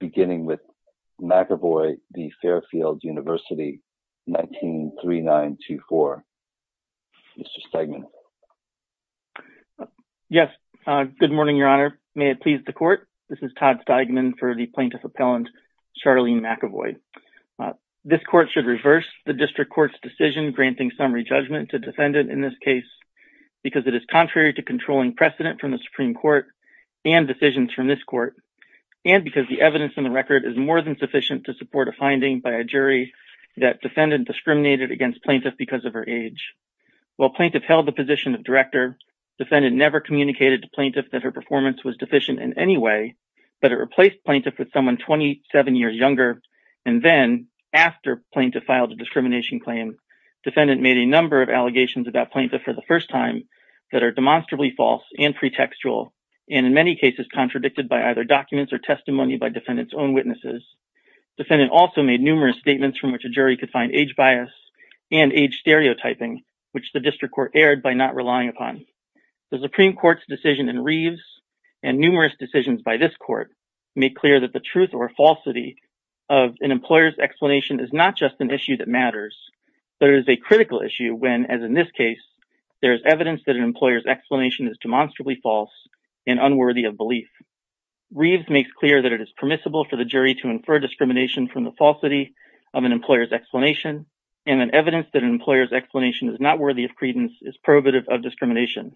beginning with McEvoy v. Fairfield University 19-3924. Mr. Steigman. Yes. Good morning, Your Honor. May it please the court. This is Todd Steigman for the plaintiff appellant Charlene McEvoy. This court should reverse the district court's decision granting summary judgment to defendant in this case because it is contrary to controlling precedent from the Supreme Court and decisions from this court and because the evidence in the record is more than sufficient to support a finding by a jury that defendant discriminated against plaintiff because of her age. While plaintiff held the position of director defendant never communicated to plaintiff that her performance was deficient in any way but it replaced plaintiff with someone 27 years younger and then after plaintiff filed a discrimination claim defendant made a number of allegations about plaintiff for the first time that are demonstrably false and pretextual and in many cases contradicted by either documents or testimony by defendants own witnesses. Defendant also made numerous statements from which a jury could find age bias and age stereotyping which the district court aired by not relying upon. The Supreme Court's decision in Reeves and numerous decisions by this court make clear that the truth or falsity of an employer's explanation is not just an issue that matters but it is a critical issue when as in this case there is evidence that an employer's explanation is demonstrably false and unworthy of belief. Reeves makes clear that it is permissible for the jury to infer discrimination from the falsity of an employer's explanation and an evidence that an employer's explanation is not worthy of credence is prohibitive of discrimination.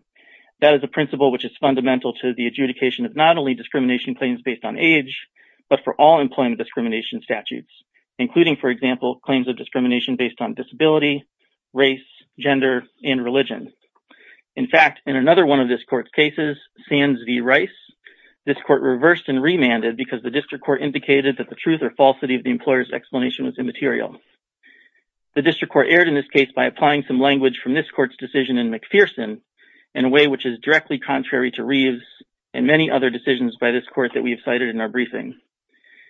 That is a principle which is fundamental to the adjudication of not only discrimination claims based on age but for all employment discrimination statutes including for race, gender, and religion. In fact, in another one of this court's cases, Sands v. Rice, this court reversed and remanded because the district court indicated that the truth or falsity of the employer's explanation was immaterial. The district court aired in this case by applying some language from this court's decision in McPherson in a way which is directly contrary to Reeves and many other decisions by this court that we have cited in our briefing.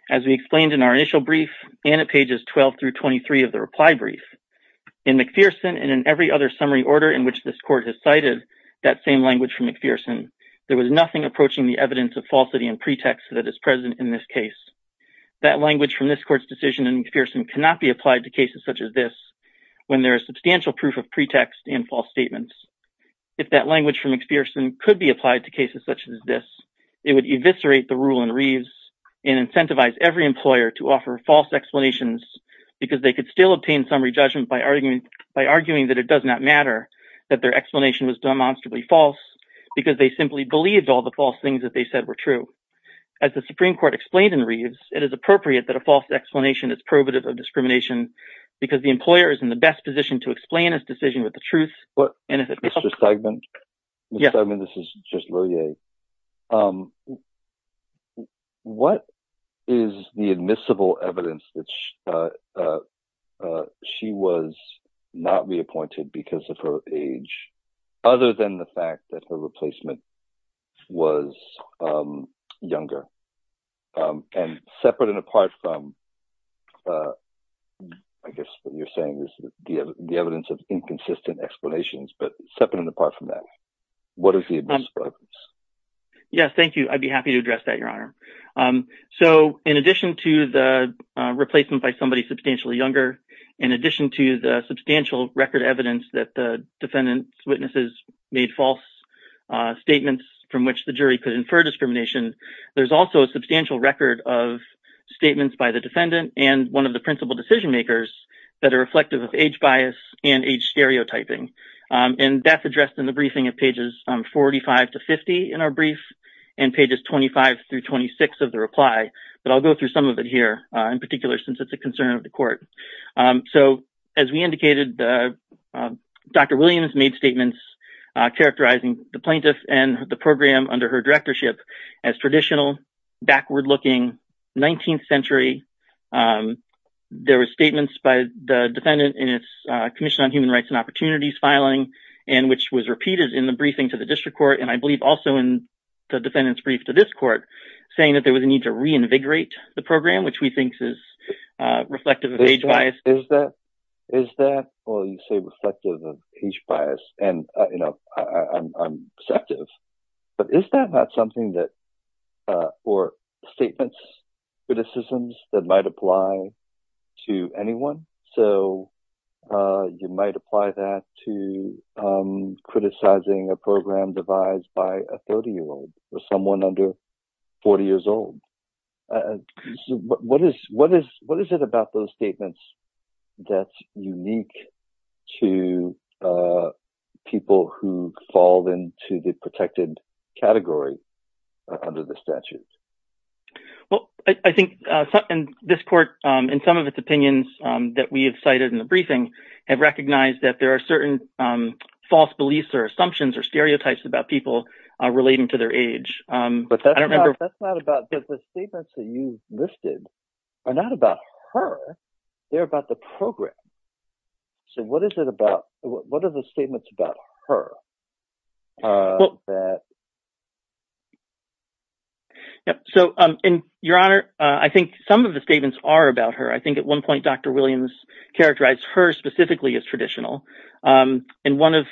As we explained in our initial brief and at pages 12 through 23 of the reply brief, in McPherson and in every other summary order in which this court has cited that same language from McPherson, there was nothing approaching the evidence of falsity and pretext that is present in this case. That language from this court's decision in McPherson cannot be applied to cases such as this when there is substantial proof of pretext and false statements. If that language from McPherson could be applied to cases such as this, it would eviscerate the rule in Reeves and incentivize every employer to offer false explanations because they could still obtain summary judgment by arguing that it does not matter that their explanation was demonstrably false because they simply believed all the false things that they said were true. As the Supreme Court explained in Reeves, it is appropriate that a false explanation is prohibitive of discrimination because the employer is in the best position to explain his decision with the truth. Mr. Segment, this is just she was not reappointed because of her age, other than the fact that the replacement was younger and separate and apart from, I guess what you're saying is the evidence of inconsistent explanations, but separate and apart from that. What is the evidence for this? Yes, thank you. I'd be happy to address that, Your Honor. In addition to the replacement by somebody substantially younger, in addition to the substantial record evidence that the defendant's witnesses made false statements from which the jury could infer discrimination, there's also a substantial record of statements by the defendant and one of the principal decision-makers that are reflective of age bias and age stereotyping. That's addressed in the briefing at pages 45 to 50 in our 26th of the reply, but I'll go through some of it here in particular since it's a concern of the court. So as we indicated, Dr. Williams made statements characterizing the plaintiff and the program under her directorship as traditional, backward-looking, 19th century. There were statements by the defendant in its Commission on Human Rights and Opportunities filing and which was repeated in the briefing to the district court and I believe also in the defendant's brief to this court saying that there was a need to reinvigorate the program, which we think is reflective of age bias. Is that, well, you say reflective of age bias and, you know, I'm receptive, but is that not something that, or statements, criticisms that might apply to anyone? So you might apply that to criticizing a program devised by a 30-year-old or someone under 40 years old. What is it about those statements that's unique to people who fall into the protected category under the statute? Well, I think this court, in some of its opinions that we have cited in the that there are certain false beliefs or assumptions or stereotypes about people relating to their age. But that's not about, but the statements that you've listed are not about her, they're about the program. So what is it about, what are the statements about her? So, Your Honor, I think some of the statements are about her. I think at one point Dr. Williams characterized her specifically as traditional. In one of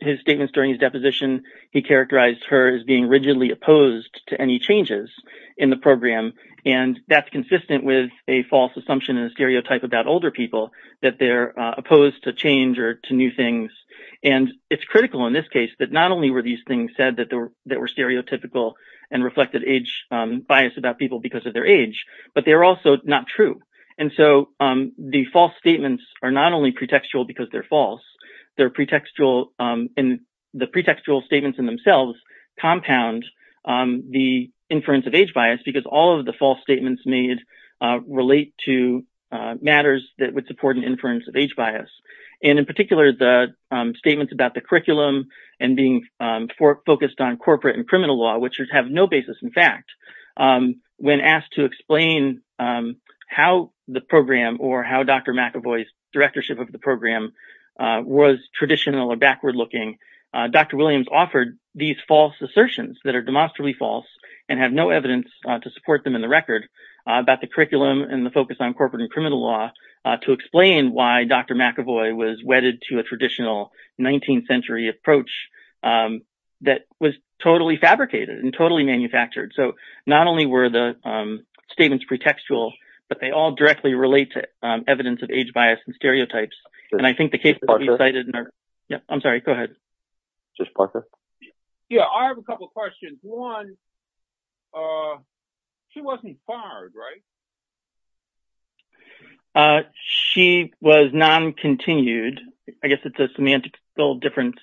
his statements during his deposition, he characterized her as being rigidly opposed to any changes in the program. And that's consistent with a false assumption and stereotype about older people, that they're opposed to change or to new things. And it's critical in this case that not only were these things said that were stereotypical and reflected age bias about people because of their age, but they're also not true. And so the false statements are not only pretextual because they're false, they're pretextual, and the pretextual statements in themselves compound the inference of age bias because all of the false statements made relate to matters that would support an inference of age bias. And in particular, the statements about the curriculum and being focused on corporate and criminal law, which have no basis in fact, when asked to explain how the program or how Dr. McAvoy's directorship of the program was traditional or backward looking, Dr. Williams offered these false assertions that are demonstrably false and have no evidence to support them in the record about the curriculum and the focus on corporate and criminal law to explain why Dr. McAvoy was wedded to a traditional 19th century approach that was totally fabricated and totally manufactured. So not only were the statements pretextual, but they all directly relate to evidence of age bias and stereotypes. And I think the case that we cited in our... Yeah, I'm sorry. Go ahead. Just Parker. Yeah, I have a couple questions. One, she wasn't fired, right? She was non-continued. I guess it's a semantical difference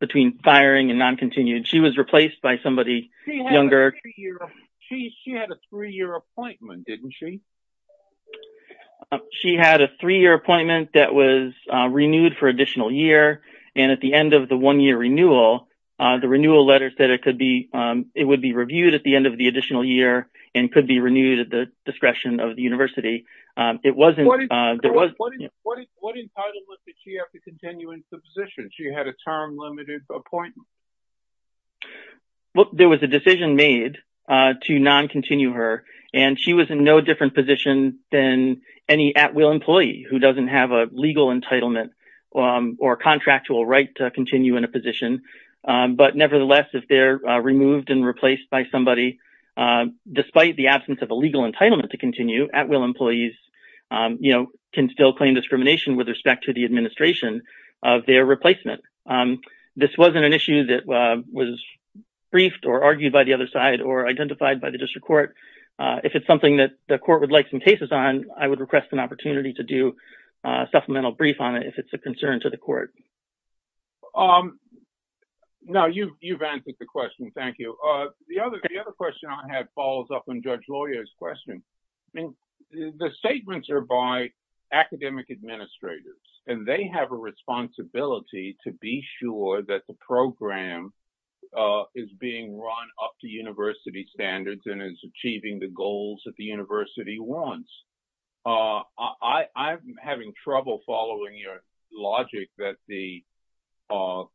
between firing and non-continued. She was replaced by somebody younger. She had a three-year appointment, didn't she? She had a three-year appointment that was renewed for additional year. And at the end of the one-year renewal, the renewal letter said it would be reviewed at the end of the additional year and could be renewed at the discretion of the university. It wasn't... What entitlement did she have to continue in subsistence? She had a term limited appointment. Well, there was a decision made to non-continue her, and she was in no different position than any at-will employee who doesn't have a legal entitlement or contractual right to continue in a position. But nevertheless, if they're removed and replaced by somebody, despite the absence of a legal entitlement to continue, at-will employees can still claim discrimination with respect to the administration of their replacement. This wasn't an issue that was briefed or argued by the other side or identified by the district court. If it's something that the court would like some cases on, I would request an opportunity to do a supplemental brief on it if it's a concern to the court. Now, you've answered the question. Thank you. The other question I have follows up on Judge Loya's question. I mean, the statements are by academic administrators, and they have a responsibility to be sure that the program is being run up to university standards and is achieving the goals that the university wants. I'm having trouble following your logic that the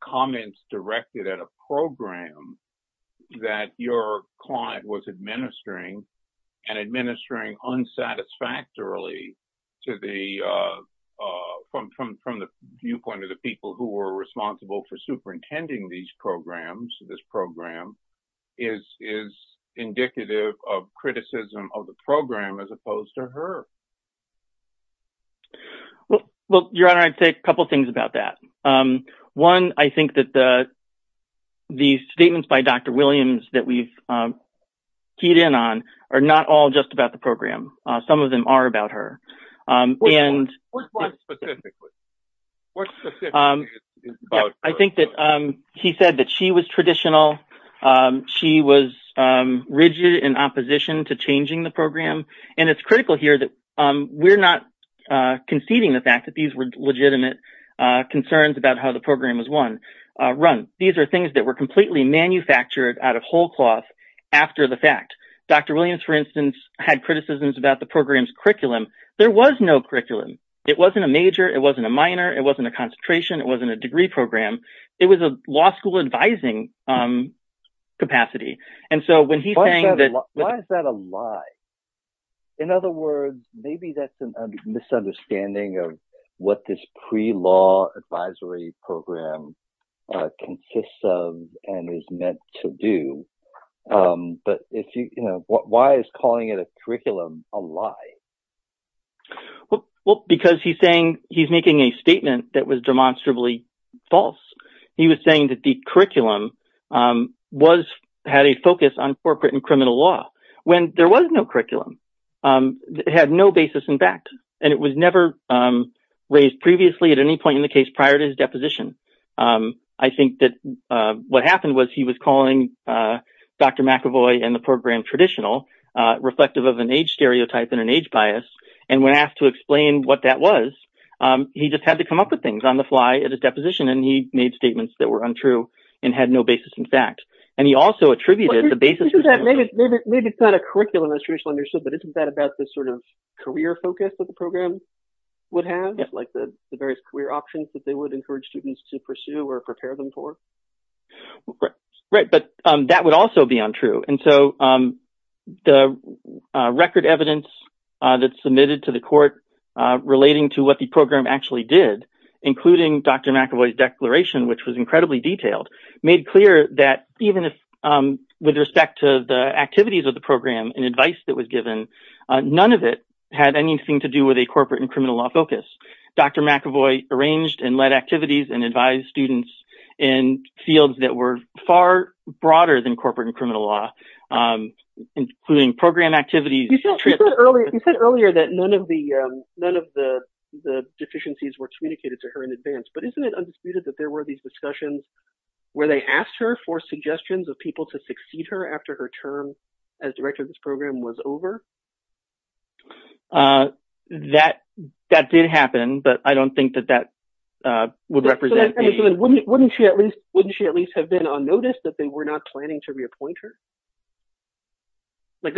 comments directed at a program that your client was administering and administering satisfactorily from the viewpoint of the people who were responsible for superintending these programs, this program, is indicative of criticism of the program as opposed to her. Well, Your Honor, I'd say a couple of things about that. One, I think that the statements by Dr. Williams that we've keyed in on are not all just about the program. Some of them are about her. I think that he said that she was traditional. She was rigid in opposition to changing the program. It's critical here that we're not conceding the fact that these were legitimate concerns about how the program was run. These are things that were completely manufactured out of whole cloth after the fact. Dr. Williams, for instance, had criticisms about the program's curriculum. There was no curriculum. It wasn't a major. It wasn't a minor. It wasn't a concentration. It wasn't a degree program. It was a law school advising capacity. And so when he's saying that... Why is that a lie? In other words, maybe that's a misunderstanding of what this pre-law advisory program consists and is meant to do. But why is calling it a curriculum a lie? Well, because he's making a statement that was demonstrably false. He was saying that the curriculum had a focus on corporate and criminal law when there was no curriculum. It had no basis in fact. And it was never raised previously at any point in the case prior to his deposition. I think that what happened was he was calling Dr. McAvoy and the program traditional, reflective of an age stereotype and an age bias. And when asked to explain what that was, he just had to come up with things on the fly at his deposition. And he made statements that were untrue and had no basis in fact. And he also attributed the basis... You said that maybe it's not a curriculum that's traditionally understood, but isn't that about the sort of career focus that the program would have? Like the various career options that they would encourage students to pursue or prepare them for? Right. But that would also be untrue. And so the record evidence that's submitted to the court relating to what the program actually did, including Dr. McAvoy's declaration, which was incredibly detailed, made clear that even with respect to the activities of the program and advice that was given, none of it had anything to do with a corporate and criminal law. Dr. McAvoy arranged and led activities and advised students in fields that were far broader than corporate and criminal law, including program activities... You said earlier that none of the deficiencies were communicated to her in advance, but isn't it undisputed that there were these discussions where they asked her for suggestions of people to succeed her after her term as director of this program was over? That did happen, but I don't think that that would represent the... So wouldn't she at least have been on notice that they were not planning to reappoint her?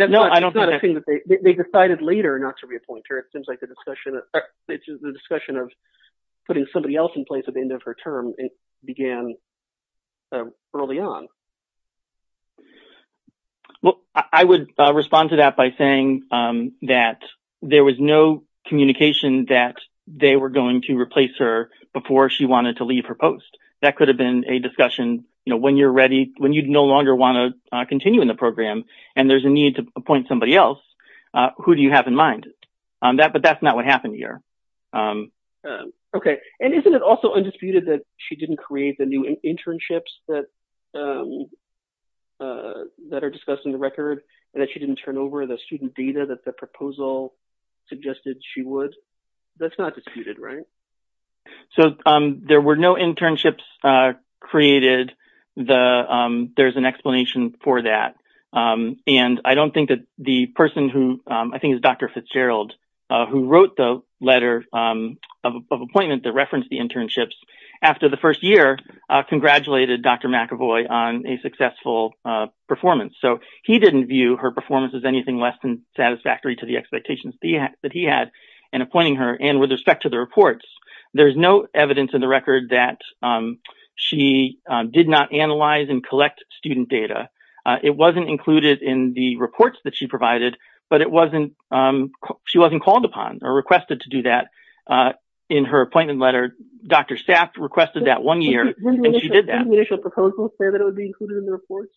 No, I don't think that... It's not a thing that they... They decided later not to reappoint her. It seems like the discussion of putting somebody else in place at the end of her term began early on. Well, I would respond to that by saying that there was no communication that they were going to replace her before she wanted to leave her post. That could have been a discussion when you're ready, when you no longer want to continue in the program and there's a need to appoint somebody else, who do you have in mind? But that's not what happened here. Okay. And isn't it also undisputed that she didn't create the new internships that are discussed in the record and that she didn't turn over the student data that the proposal suggested she would? That's not disputed, right? So there were no internships created. There's an explanation for that. And I don't think that the person who... I think it's Dr. Fitzgerald who wrote the letter of appointment that referenced the internships after the first year, congratulated Dr. McEvoy on a successful performance. So he didn't view her performance as anything less than satisfactory to the expectations that he had in appointing her. And with respect to the reports, there's no evidence in the record that she did not analyze and collect student data. It wasn't included in the reports that she provided, but it wasn't... She wasn't called Dr. Staff requested that one year and she did that. Didn't the initial proposal say that it would be included in the reports?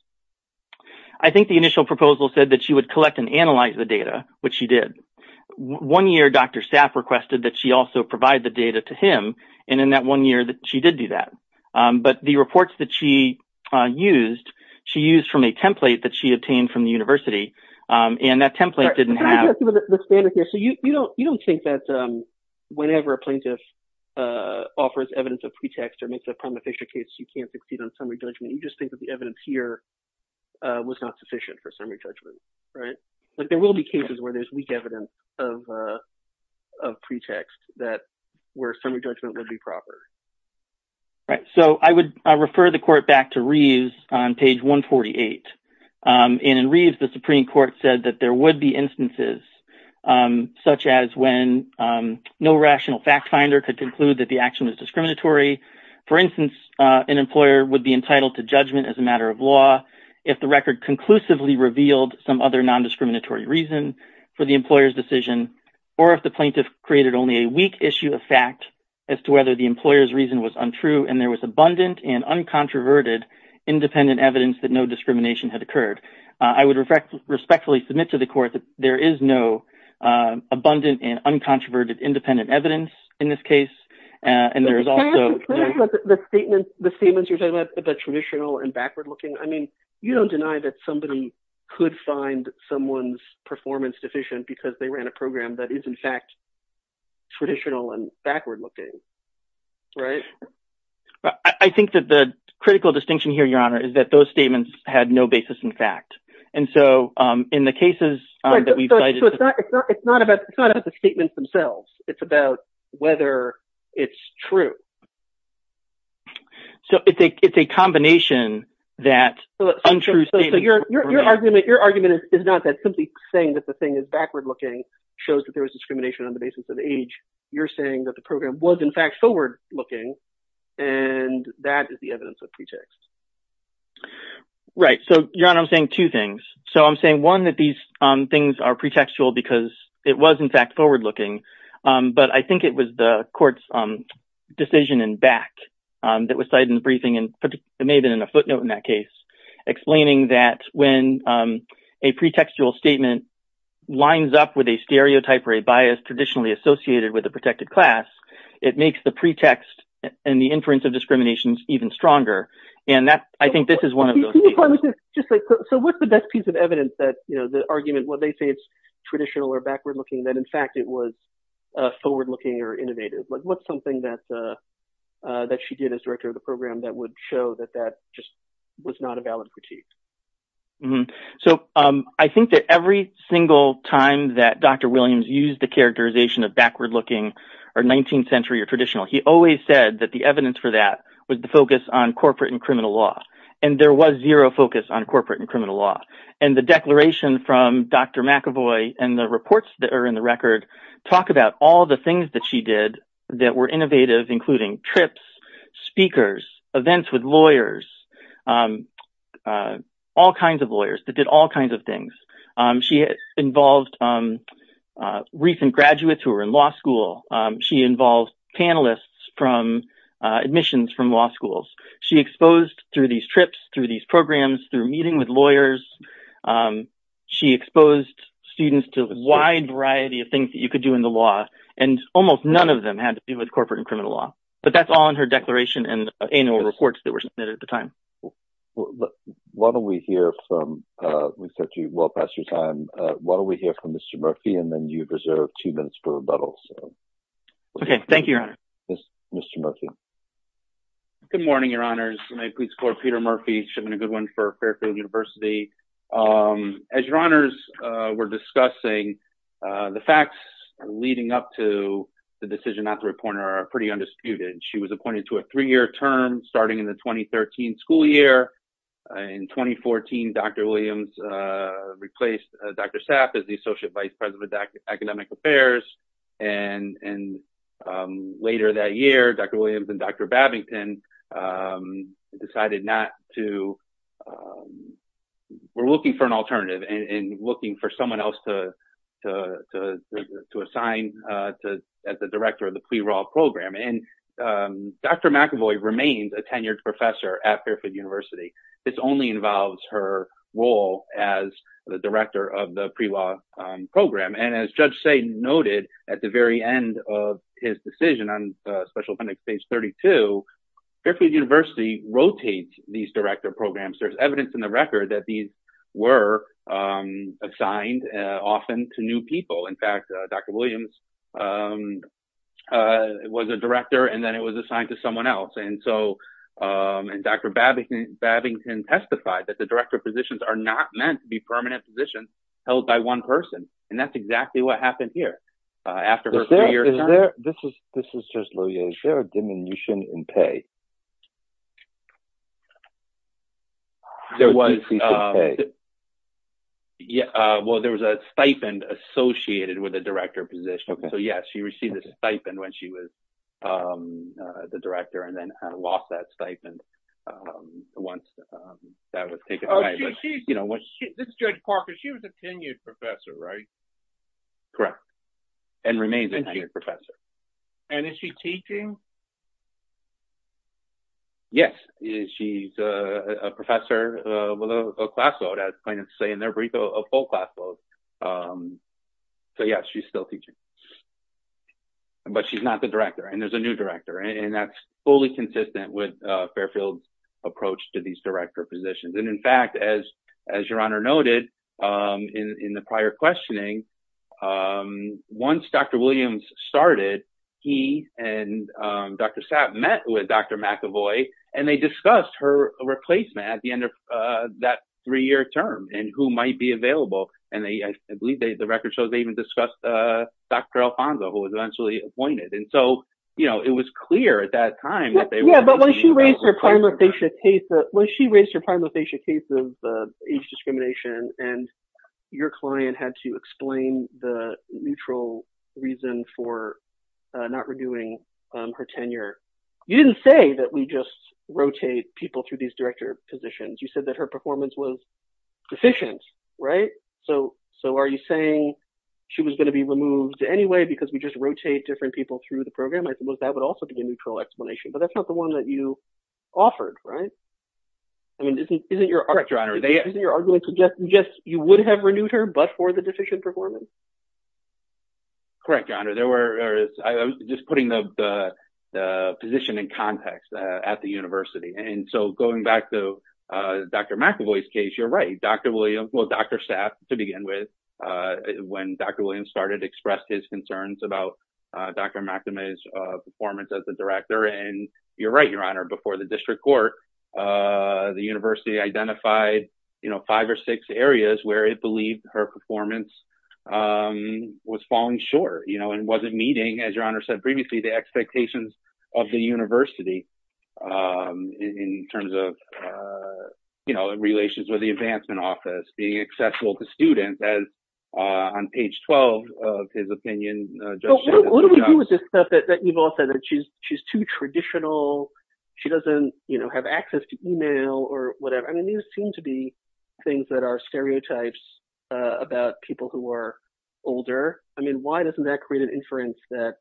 I think the initial proposal said that she would collect and analyze the data, which she did. One year, Dr. Staff requested that she also provide the data to him. And in that one year, she did do that. But the reports that she used, she used from a template that she obtained from the university. And that template didn't have... You don't think that whenever a plaintiff offers evidence of pretext or makes a prima facie case, you can't succeed on summary judgment. You just think that the evidence here was not sufficient for summary judgment, right? There will be cases where there's weak evidence of pretext that where summary judgment would be proper. Right. So I would refer the court back to Reeves on page 148. And in Reeves, the Supreme Court said that there would be instances such as when no rational fact finder could conclude that the action was discriminatory. For instance, an employer would be entitled to judgment as a matter of law if the record conclusively revealed some other non-discriminatory reason for the employer's decision, or if the plaintiff created only a weak issue of fact as to whether the employer's reason was untrue and there was abundant and uncontroverted independent evidence that no discrimination had occurred. I would respectfully submit to the court that there is no abundant and uncontroverted independent evidence in this case. And there is also... The statements you're talking about, the traditional and backward looking, I mean, you don't deny that somebody could find someone's performance deficient because they ran a program that is in fact traditional and backward looking, right? I think that the critical distinction here, Your Honor, is that those statements had no basis in fact. And so in the cases that we've cited... It's not about the statements themselves. It's about whether it's true. So it's a combination that untrue statements... So your argument is not that simply saying that the thing is backward looking shows that there was discrimination on the basis of the age. You're saying that the program was in fact forward looking, and that is the evidence of pretext. Right. So, Your Honor, I'm saying two things. So I'm saying, one, that these things are pretextual because it was in fact forward looking. But I think it was the court's decision in back that was cited in the briefing, and it may have been in a footnote in that case, explaining that when a pretextual statement lines up with a stereotype or a bias traditionally associated with a protected class, it makes the pretext and the inference of discriminations even stronger. And I think this is one of those... So what's the best piece of evidence that, you know, the argument... Well, they say it's traditional or backward looking, that in fact it was forward looking or innovative. What's something that she did as director of the critique? So I think that every single time that Dr. Williams used the characterization of backward looking or 19th century or traditional, he always said that the evidence for that was the focus on corporate and criminal law. And there was zero focus on corporate and criminal law. And the declaration from Dr. McAvoy and the reports that are in the record talk about all the things that did that were innovative, including trips, speakers, events with lawyers, all kinds of lawyers that did all kinds of things. She involved recent graduates who were in law school. She involved panelists from admissions from law schools. She exposed through these trips, through these programs, through meeting with lawyers. She exposed students to a wide variety of things that you could do in the law. And almost none of them had to do with corporate and criminal law, but that's all in her declaration and annual reports that were submitted at the time. Why don't we hear from... We said to you well past your time. Why don't we hear from Mr. Murphy and then you reserve two minutes for rebuttals. Okay. Thank you, Your Honor. Mr. Murphy. Good morning, Your Honors. My name is Peter Murphy. It's been a good one for Fairfield University. As Your Honors were discussing, the facts leading up to the decision not to appoint her are pretty undisputed. She was appointed to a three-year term starting in the 2013 school year. In 2014, Dr. Williams replaced Dr. Sapp as the Associate Vice President of Academic Affairs. And later that year, Dr. Williams and Dr. Babington decided not to... We're looking for an alternative and looking for someone else to assign as the Director of the Pre-Law Program. And Dr. McEvoy remains a tenured professor at Fairfield University. This only involves her role as the Director of the Pre-Law Program. And as Judge Say noted at the very end of his decision on Special Appendix Page 32, Fairfield University rotates these Director Programs. There's evidence in the record that these were assigned often to new people. In fact, Dr. Williams was a Director and then it was assigned to someone else. And so Dr. Babington testified that the Director positions are not meant to be permanent positions held by one person. And that's exactly what happened here after her three-year term. Is there a diminution in pay? Well, there was a stipend associated with the Director position. So yes, she received a stipend when she was the Director and then lost that stipend once that was taken away. This is Judge Parker. She was a tenured professor, right? Correct. And remains a tenured professor. And is she teaching? Yes. She's a professor with a class vote, as plaintiffs say in their brief, a full class vote. So yes, she's still teaching. But she's not the Director. And there's a new Director. And that's fully consistent with Fairfield's approach to these Director positions. And in fact, as Your Honor noted in the prior questioning, once Dr. Williams started, he and Dr. Sapp met with Dr. McAvoy and they discussed her replacement at the end of that three-year term and who might be available. And I believe the record shows they even discussed Dr. Alfonzo, who was eventually Yeah, but when she raised her prima facie case of age discrimination and your client had to explain the neutral reason for not renewing her tenure, you didn't say that we just rotate people through these Director positions. You said that her performance was deficient, right? So are you saying she was going to be removed anyway because we just rotate different people through the But that's not the one that you offered, right? I mean, isn't your argument that you would have renewed her but for the deficient performance? Correct, Your Honor. I was just putting the position in context at the university. And so going back to Dr. McAvoy's case, you're right. Dr. Sapp, to begin with, when Dr. Williams started, expressed his concerns about Dr. You're right, Your Honor. Before the district court, the university identified five or six areas where it believed her performance was falling short and wasn't meeting, as Your Honor said previously, the expectations of the university in terms of relations with the Advancement Office, being accessible to students as on page 12 of his opinion. What do we do with stuff that you've all said that she's too traditional? She doesn't have access to email or whatever. I mean, these seem to be things that are stereotypes about people who are older. I mean, why doesn't that create an inference that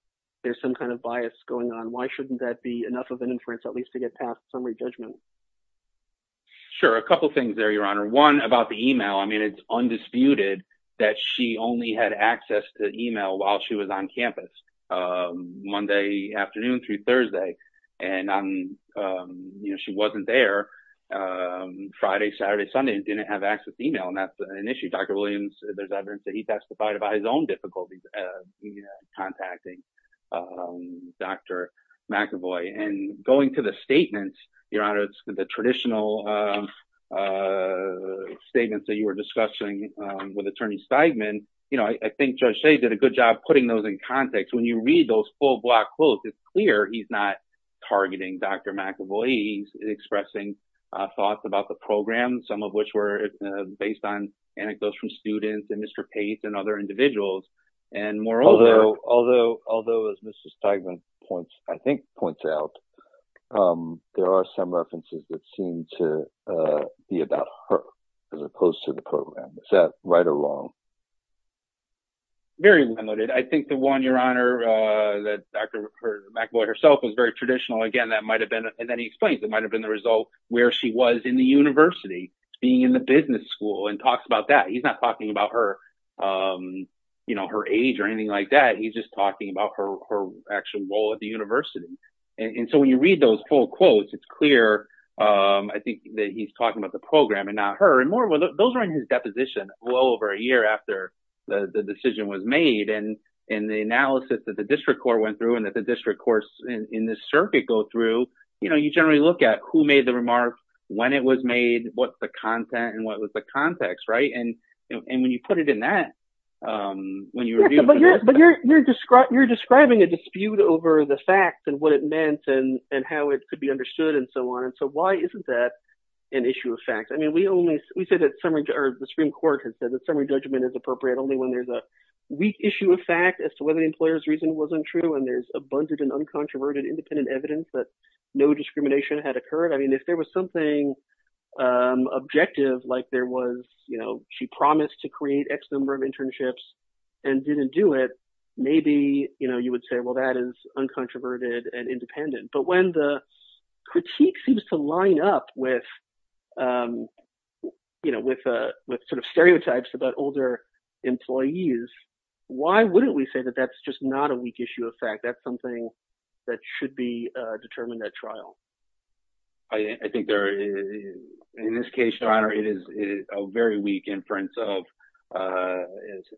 there's some kind of bias going on? Why shouldn't that be enough of an inference, at least to get past summary judgment? Sure. A couple of things there, Your Honor. One about the email. I mean, it's undisputed that she only had access to email while she was on campus, Monday afternoon through Thursday. And she wasn't there Friday, Saturday, Sunday, and didn't have access to email. And that's an issue. Dr. Williams, there's evidence that he testified about his own difficulties contacting Dr. McEvoy. And going to the statements, Your Honor, the traditional statements that you were discussing with Attorney Steigman, I think Judge Shea did a good job putting those in context. When you read those full block quotes, it's clear he's not targeting Dr. McEvoy. He's expressing thoughts about the program, some of which were based on anecdotes from students and Mr. Pace and other individuals. And moreover— Although, as Mr. Steigman, I think, points out, there are some references that seem to be about her as opposed to the program. Is that right or wrong? Very limited. I think the one, Your Honor, that Dr. McEvoy herself was very traditional, again, that might have been—and then he explains—it might have been the result where she was in the university being in the business school and talks about that. He's not talking about her age or anything like that. He's just talking about her actual role at the university. And so when you read those full quotes, it's clear, I think, that he's talking about the program and not her. And moreover, those are in his deposition well over a year after the decision was made. And in the analysis that the district court went through and that the district courts in this circuit go through, you generally look at who made the remark, when it was made, what's the content, and what was the context, right? And when you put it in that, when you— You're describing a dispute over the fact and what it meant and how it could be understood and so on. And so why isn't that an issue of fact? I mean, we only—we say that summary—or the Supreme Court has said that summary judgment is appropriate only when there's a weak issue of fact as to whether the employer's reason wasn't true and there's abundant and uncontroverted independent evidence that no discrimination had occurred. I mean, if there was something objective, like there was, you know, she promised to create X number of internships and didn't do it, maybe, you know, you would say, well, that is uncontroverted and independent. But when the critique seems to line up with, you know, with sort of stereotypes about older employees, why wouldn't we say that that's just not a weak issue of fact? That's something that should be determined at trial? I think there is—in this case, it is a very weak inference of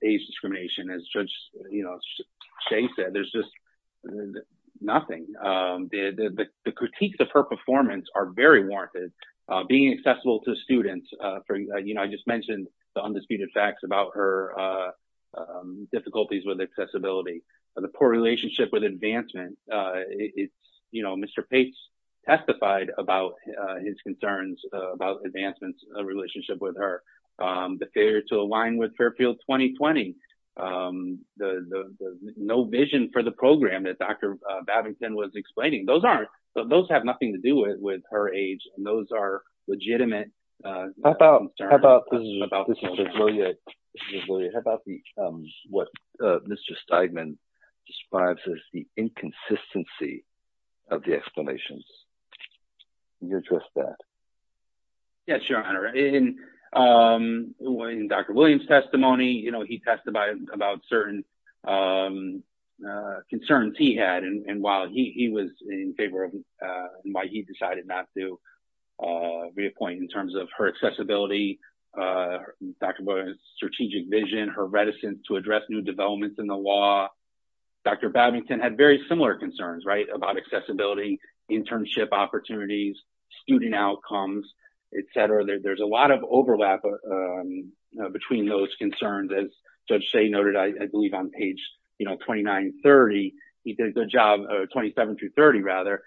age discrimination. As Judge Shea said, there's just nothing. The critiques of her performance are very warranted. Being accessible to students, you know, I just mentioned the undisputed facts about her difficulties with accessibility, the poor relationship with advancement. It's, you know, Mr. Pates testified about his concerns about advancement's relationship with her. The failure to align with Fairfield 2020. No vision for the program that Dr. Babington was explaining. Those aren't—those have nothing to do with her age and those are legitimate concerns. How about—this is for Julia. How about what Mr. Steigman describes as the inconsistency of the explanations? Can you address that? Yes, Your Honor. In Dr. Williams' testimony, you know, he testified about certain concerns he had and while he was in favor of—why he decided not to reappoint in terms of her accessibility, Dr. Williams' strategic vision, her reticence to address new developments in the law, Dr. Babington had very similar concerns, right, about accessibility, internship opportunities, student outcomes, et cetera. There's a lot of overlap between those concerns. As Judge Shea noted, I believe on page, you know, 2930, he did a good job—27 to 30, rather,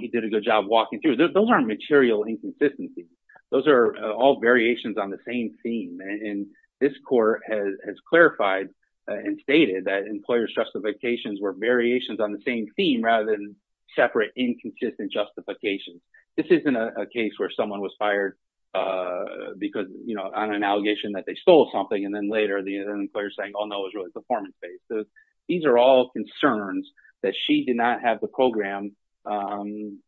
he did a good job walking through. Those aren't material inconsistencies. Those are all variations on the same theme and this court has clarified and stated that employer's justifications were variations on the same theme rather than separate inconsistent justifications. This isn't a case where someone was fired because, you know, on an allegation that they stole something and then later the employer's saying, oh, no, it was really performance-based. These are all concerns that she did not have the program going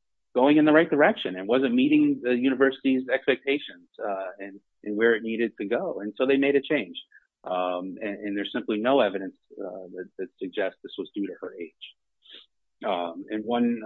in the right direction and wasn't meeting the university's expectations and where it needed to go and so they made a change and there's simply no evidence that suggests this was due to her age. And one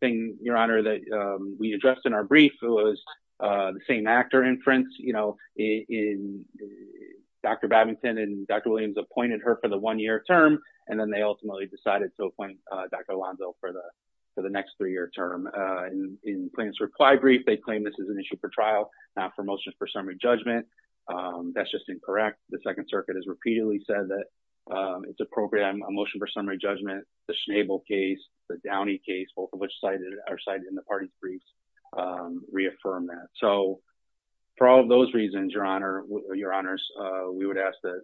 thing, Your Honor, that we addressed in our brief was the same actor inference, you know, in—Dr. Babington and Dr. Williams appointed her for the one-year term and then they ultimately decided to appoint Dr. Alonzo for the next three-year term. In the plaintiff's reply brief, they claim this is an issue for trial, not for motion for summary judgment. That's just incorrect. The Second Circuit has repeatedly said that it's appropriate on motion for summary judgment. The Schnabel case, the Downey case, both of which are cited in the party briefs, reaffirm that. So, for all of those reasons, Your Honor, we would ask that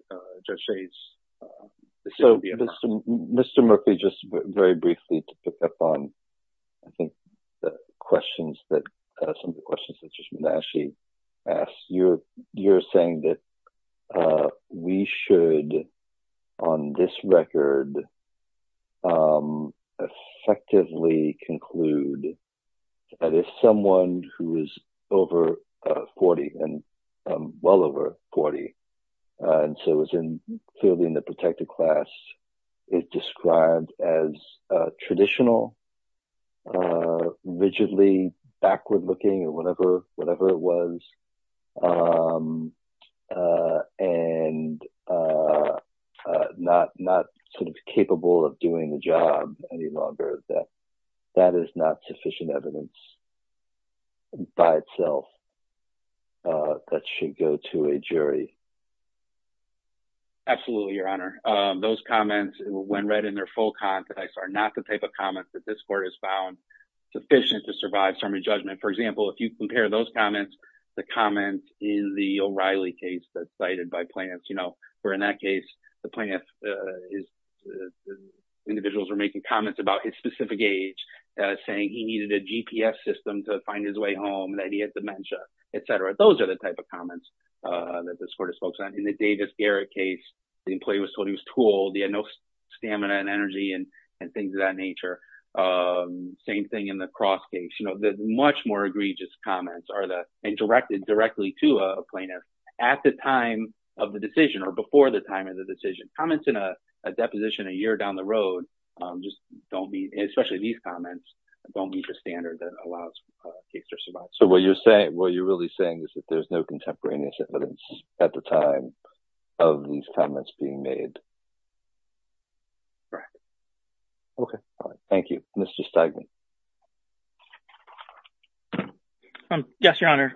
Judge Shades—So, Mr. Murphy, just very briefly to pick up on, I think, the questions that—some you're saying that we should, on this record, effectively conclude that if someone who is over 40 and well over 40 and so is clearly in the protected class is described as traditional, rigidly backward-looking or whatever it was, and not sort of capable of doing the job any longer, that that is not sufficient evidence by itself that should go to a jury. Absolutely, Your Honor. Those comments, when read in their full context, are not the type of comments that this Court has found sufficient to survive summary judgment. For example, if you compare those comments to comments in the O'Reilly case that's cited by plaintiffs, you know, where in that case, the plaintiff is—individuals were making comments about his specific age, saying he needed a GPS system to find his way home, that he had dementia, et cetera. Those are the type of comments that this Court has focused on. In the Davis-Garrett case, the employee was told he was of that nature. Same thing in the Cross case. You know, the much more egregious comments are the—and directed directly to a plaintiff at the time of the decision or before the time of the decision. Comments in a deposition a year down the road just don't be—especially these comments—don't meet the standard that allows a case to survive. So what you're saying—what you're really saying is that there's no contemporaneous evidence at the time of these comments being made? Correct. Okay. All right. Thank you. Mr. Stegman. Yes, Your Honor.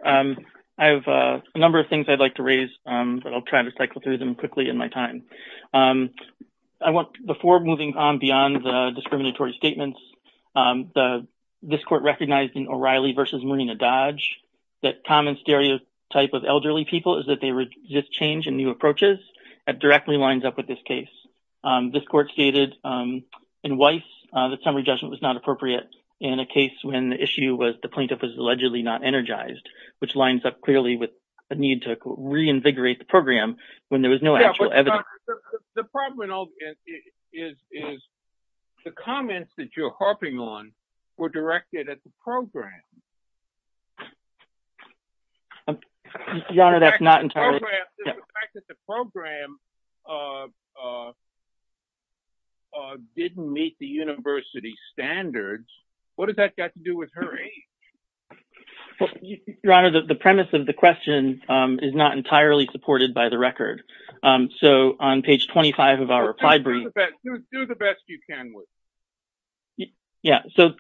I have a number of things I'd like to raise, but I'll try to cycle through them quickly in my time. I want—before moving on beyond the discriminatory statements, the—this Court recognized in O'Reilly v. Marina Dodge that common stereotype of elderly people is they resist change and new approaches. That directly lines up with this case. This Court stated in Weiss that summary judgment was not appropriate in a case when the issue was the plaintiff was allegedly not energized, which lines up clearly with a need to reinvigorate the program when there was no actual evidence. The problem is the comments that you're harping on were directed at the program. Your Honor, that's not entirely— The fact that the program didn't meet the university standards, what has that got to do with her age? Your Honor, the premise of the question is not entirely supported by the record. So on page 25 of our replied brief— Just do the best you can with it. Yeah. So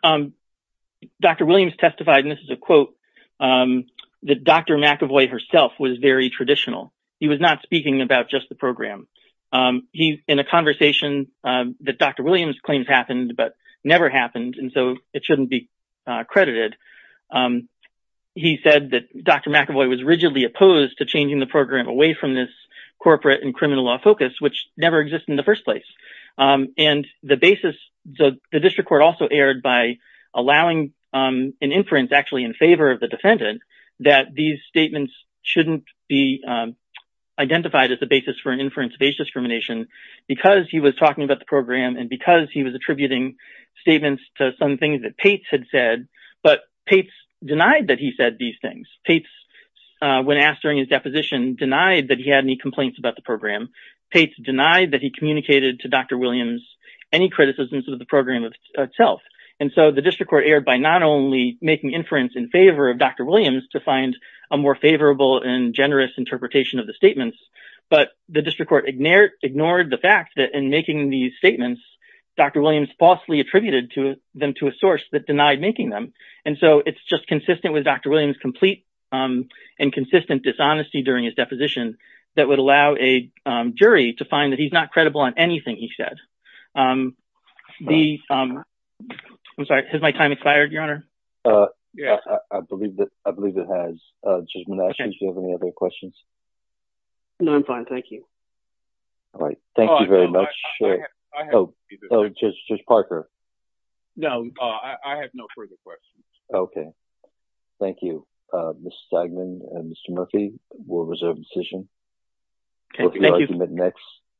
Dr. Williams testified, and this is a quote, that Dr. McAvoy herself was very traditional. He was not speaking about just the program. In a conversation that Dr. Williams claims happened but never happened, and so it shouldn't be credited, he said that Dr. McAvoy was rigidly opposed to changing the program away from this corporate and criminal law focus, which never existed in the first place. The district court also erred by allowing an inference actually in favor of the defendant that these statements shouldn't be identified as a basis for an inference of age discrimination because he was talking about the program and because he was attributing statements to some things that Pates had said, but Pates denied that he said these things. Pates, when asked during his deposition, denied that he had any complaints about the program. Pates denied that he communicated to Dr. Williams any criticisms of the program itself. And so the district court erred by not only making inference in favor of Dr. Williams to find a more favorable and generous interpretation of the statements, but the district court ignored the fact that in making these statements, Dr. Williams falsely attributed them to a source that denied making them. And so it's just consistent with Dr. Williams' complete and consistent dishonesty during his deposition that would allow a jury to find that he's not credible on anything he said. I'm sorry, has my time expired, your honor? Yeah, I believe that I believe it has. Judge Monash, do you have any other questions? No, I'm fine, thank you. All right, thank you very much. Oh, Judge Parker? No, I have no further questions. Okay, thank you, Mr. Stegman and Mr. Murphy. We'll reserve a decision. Okay, thank you.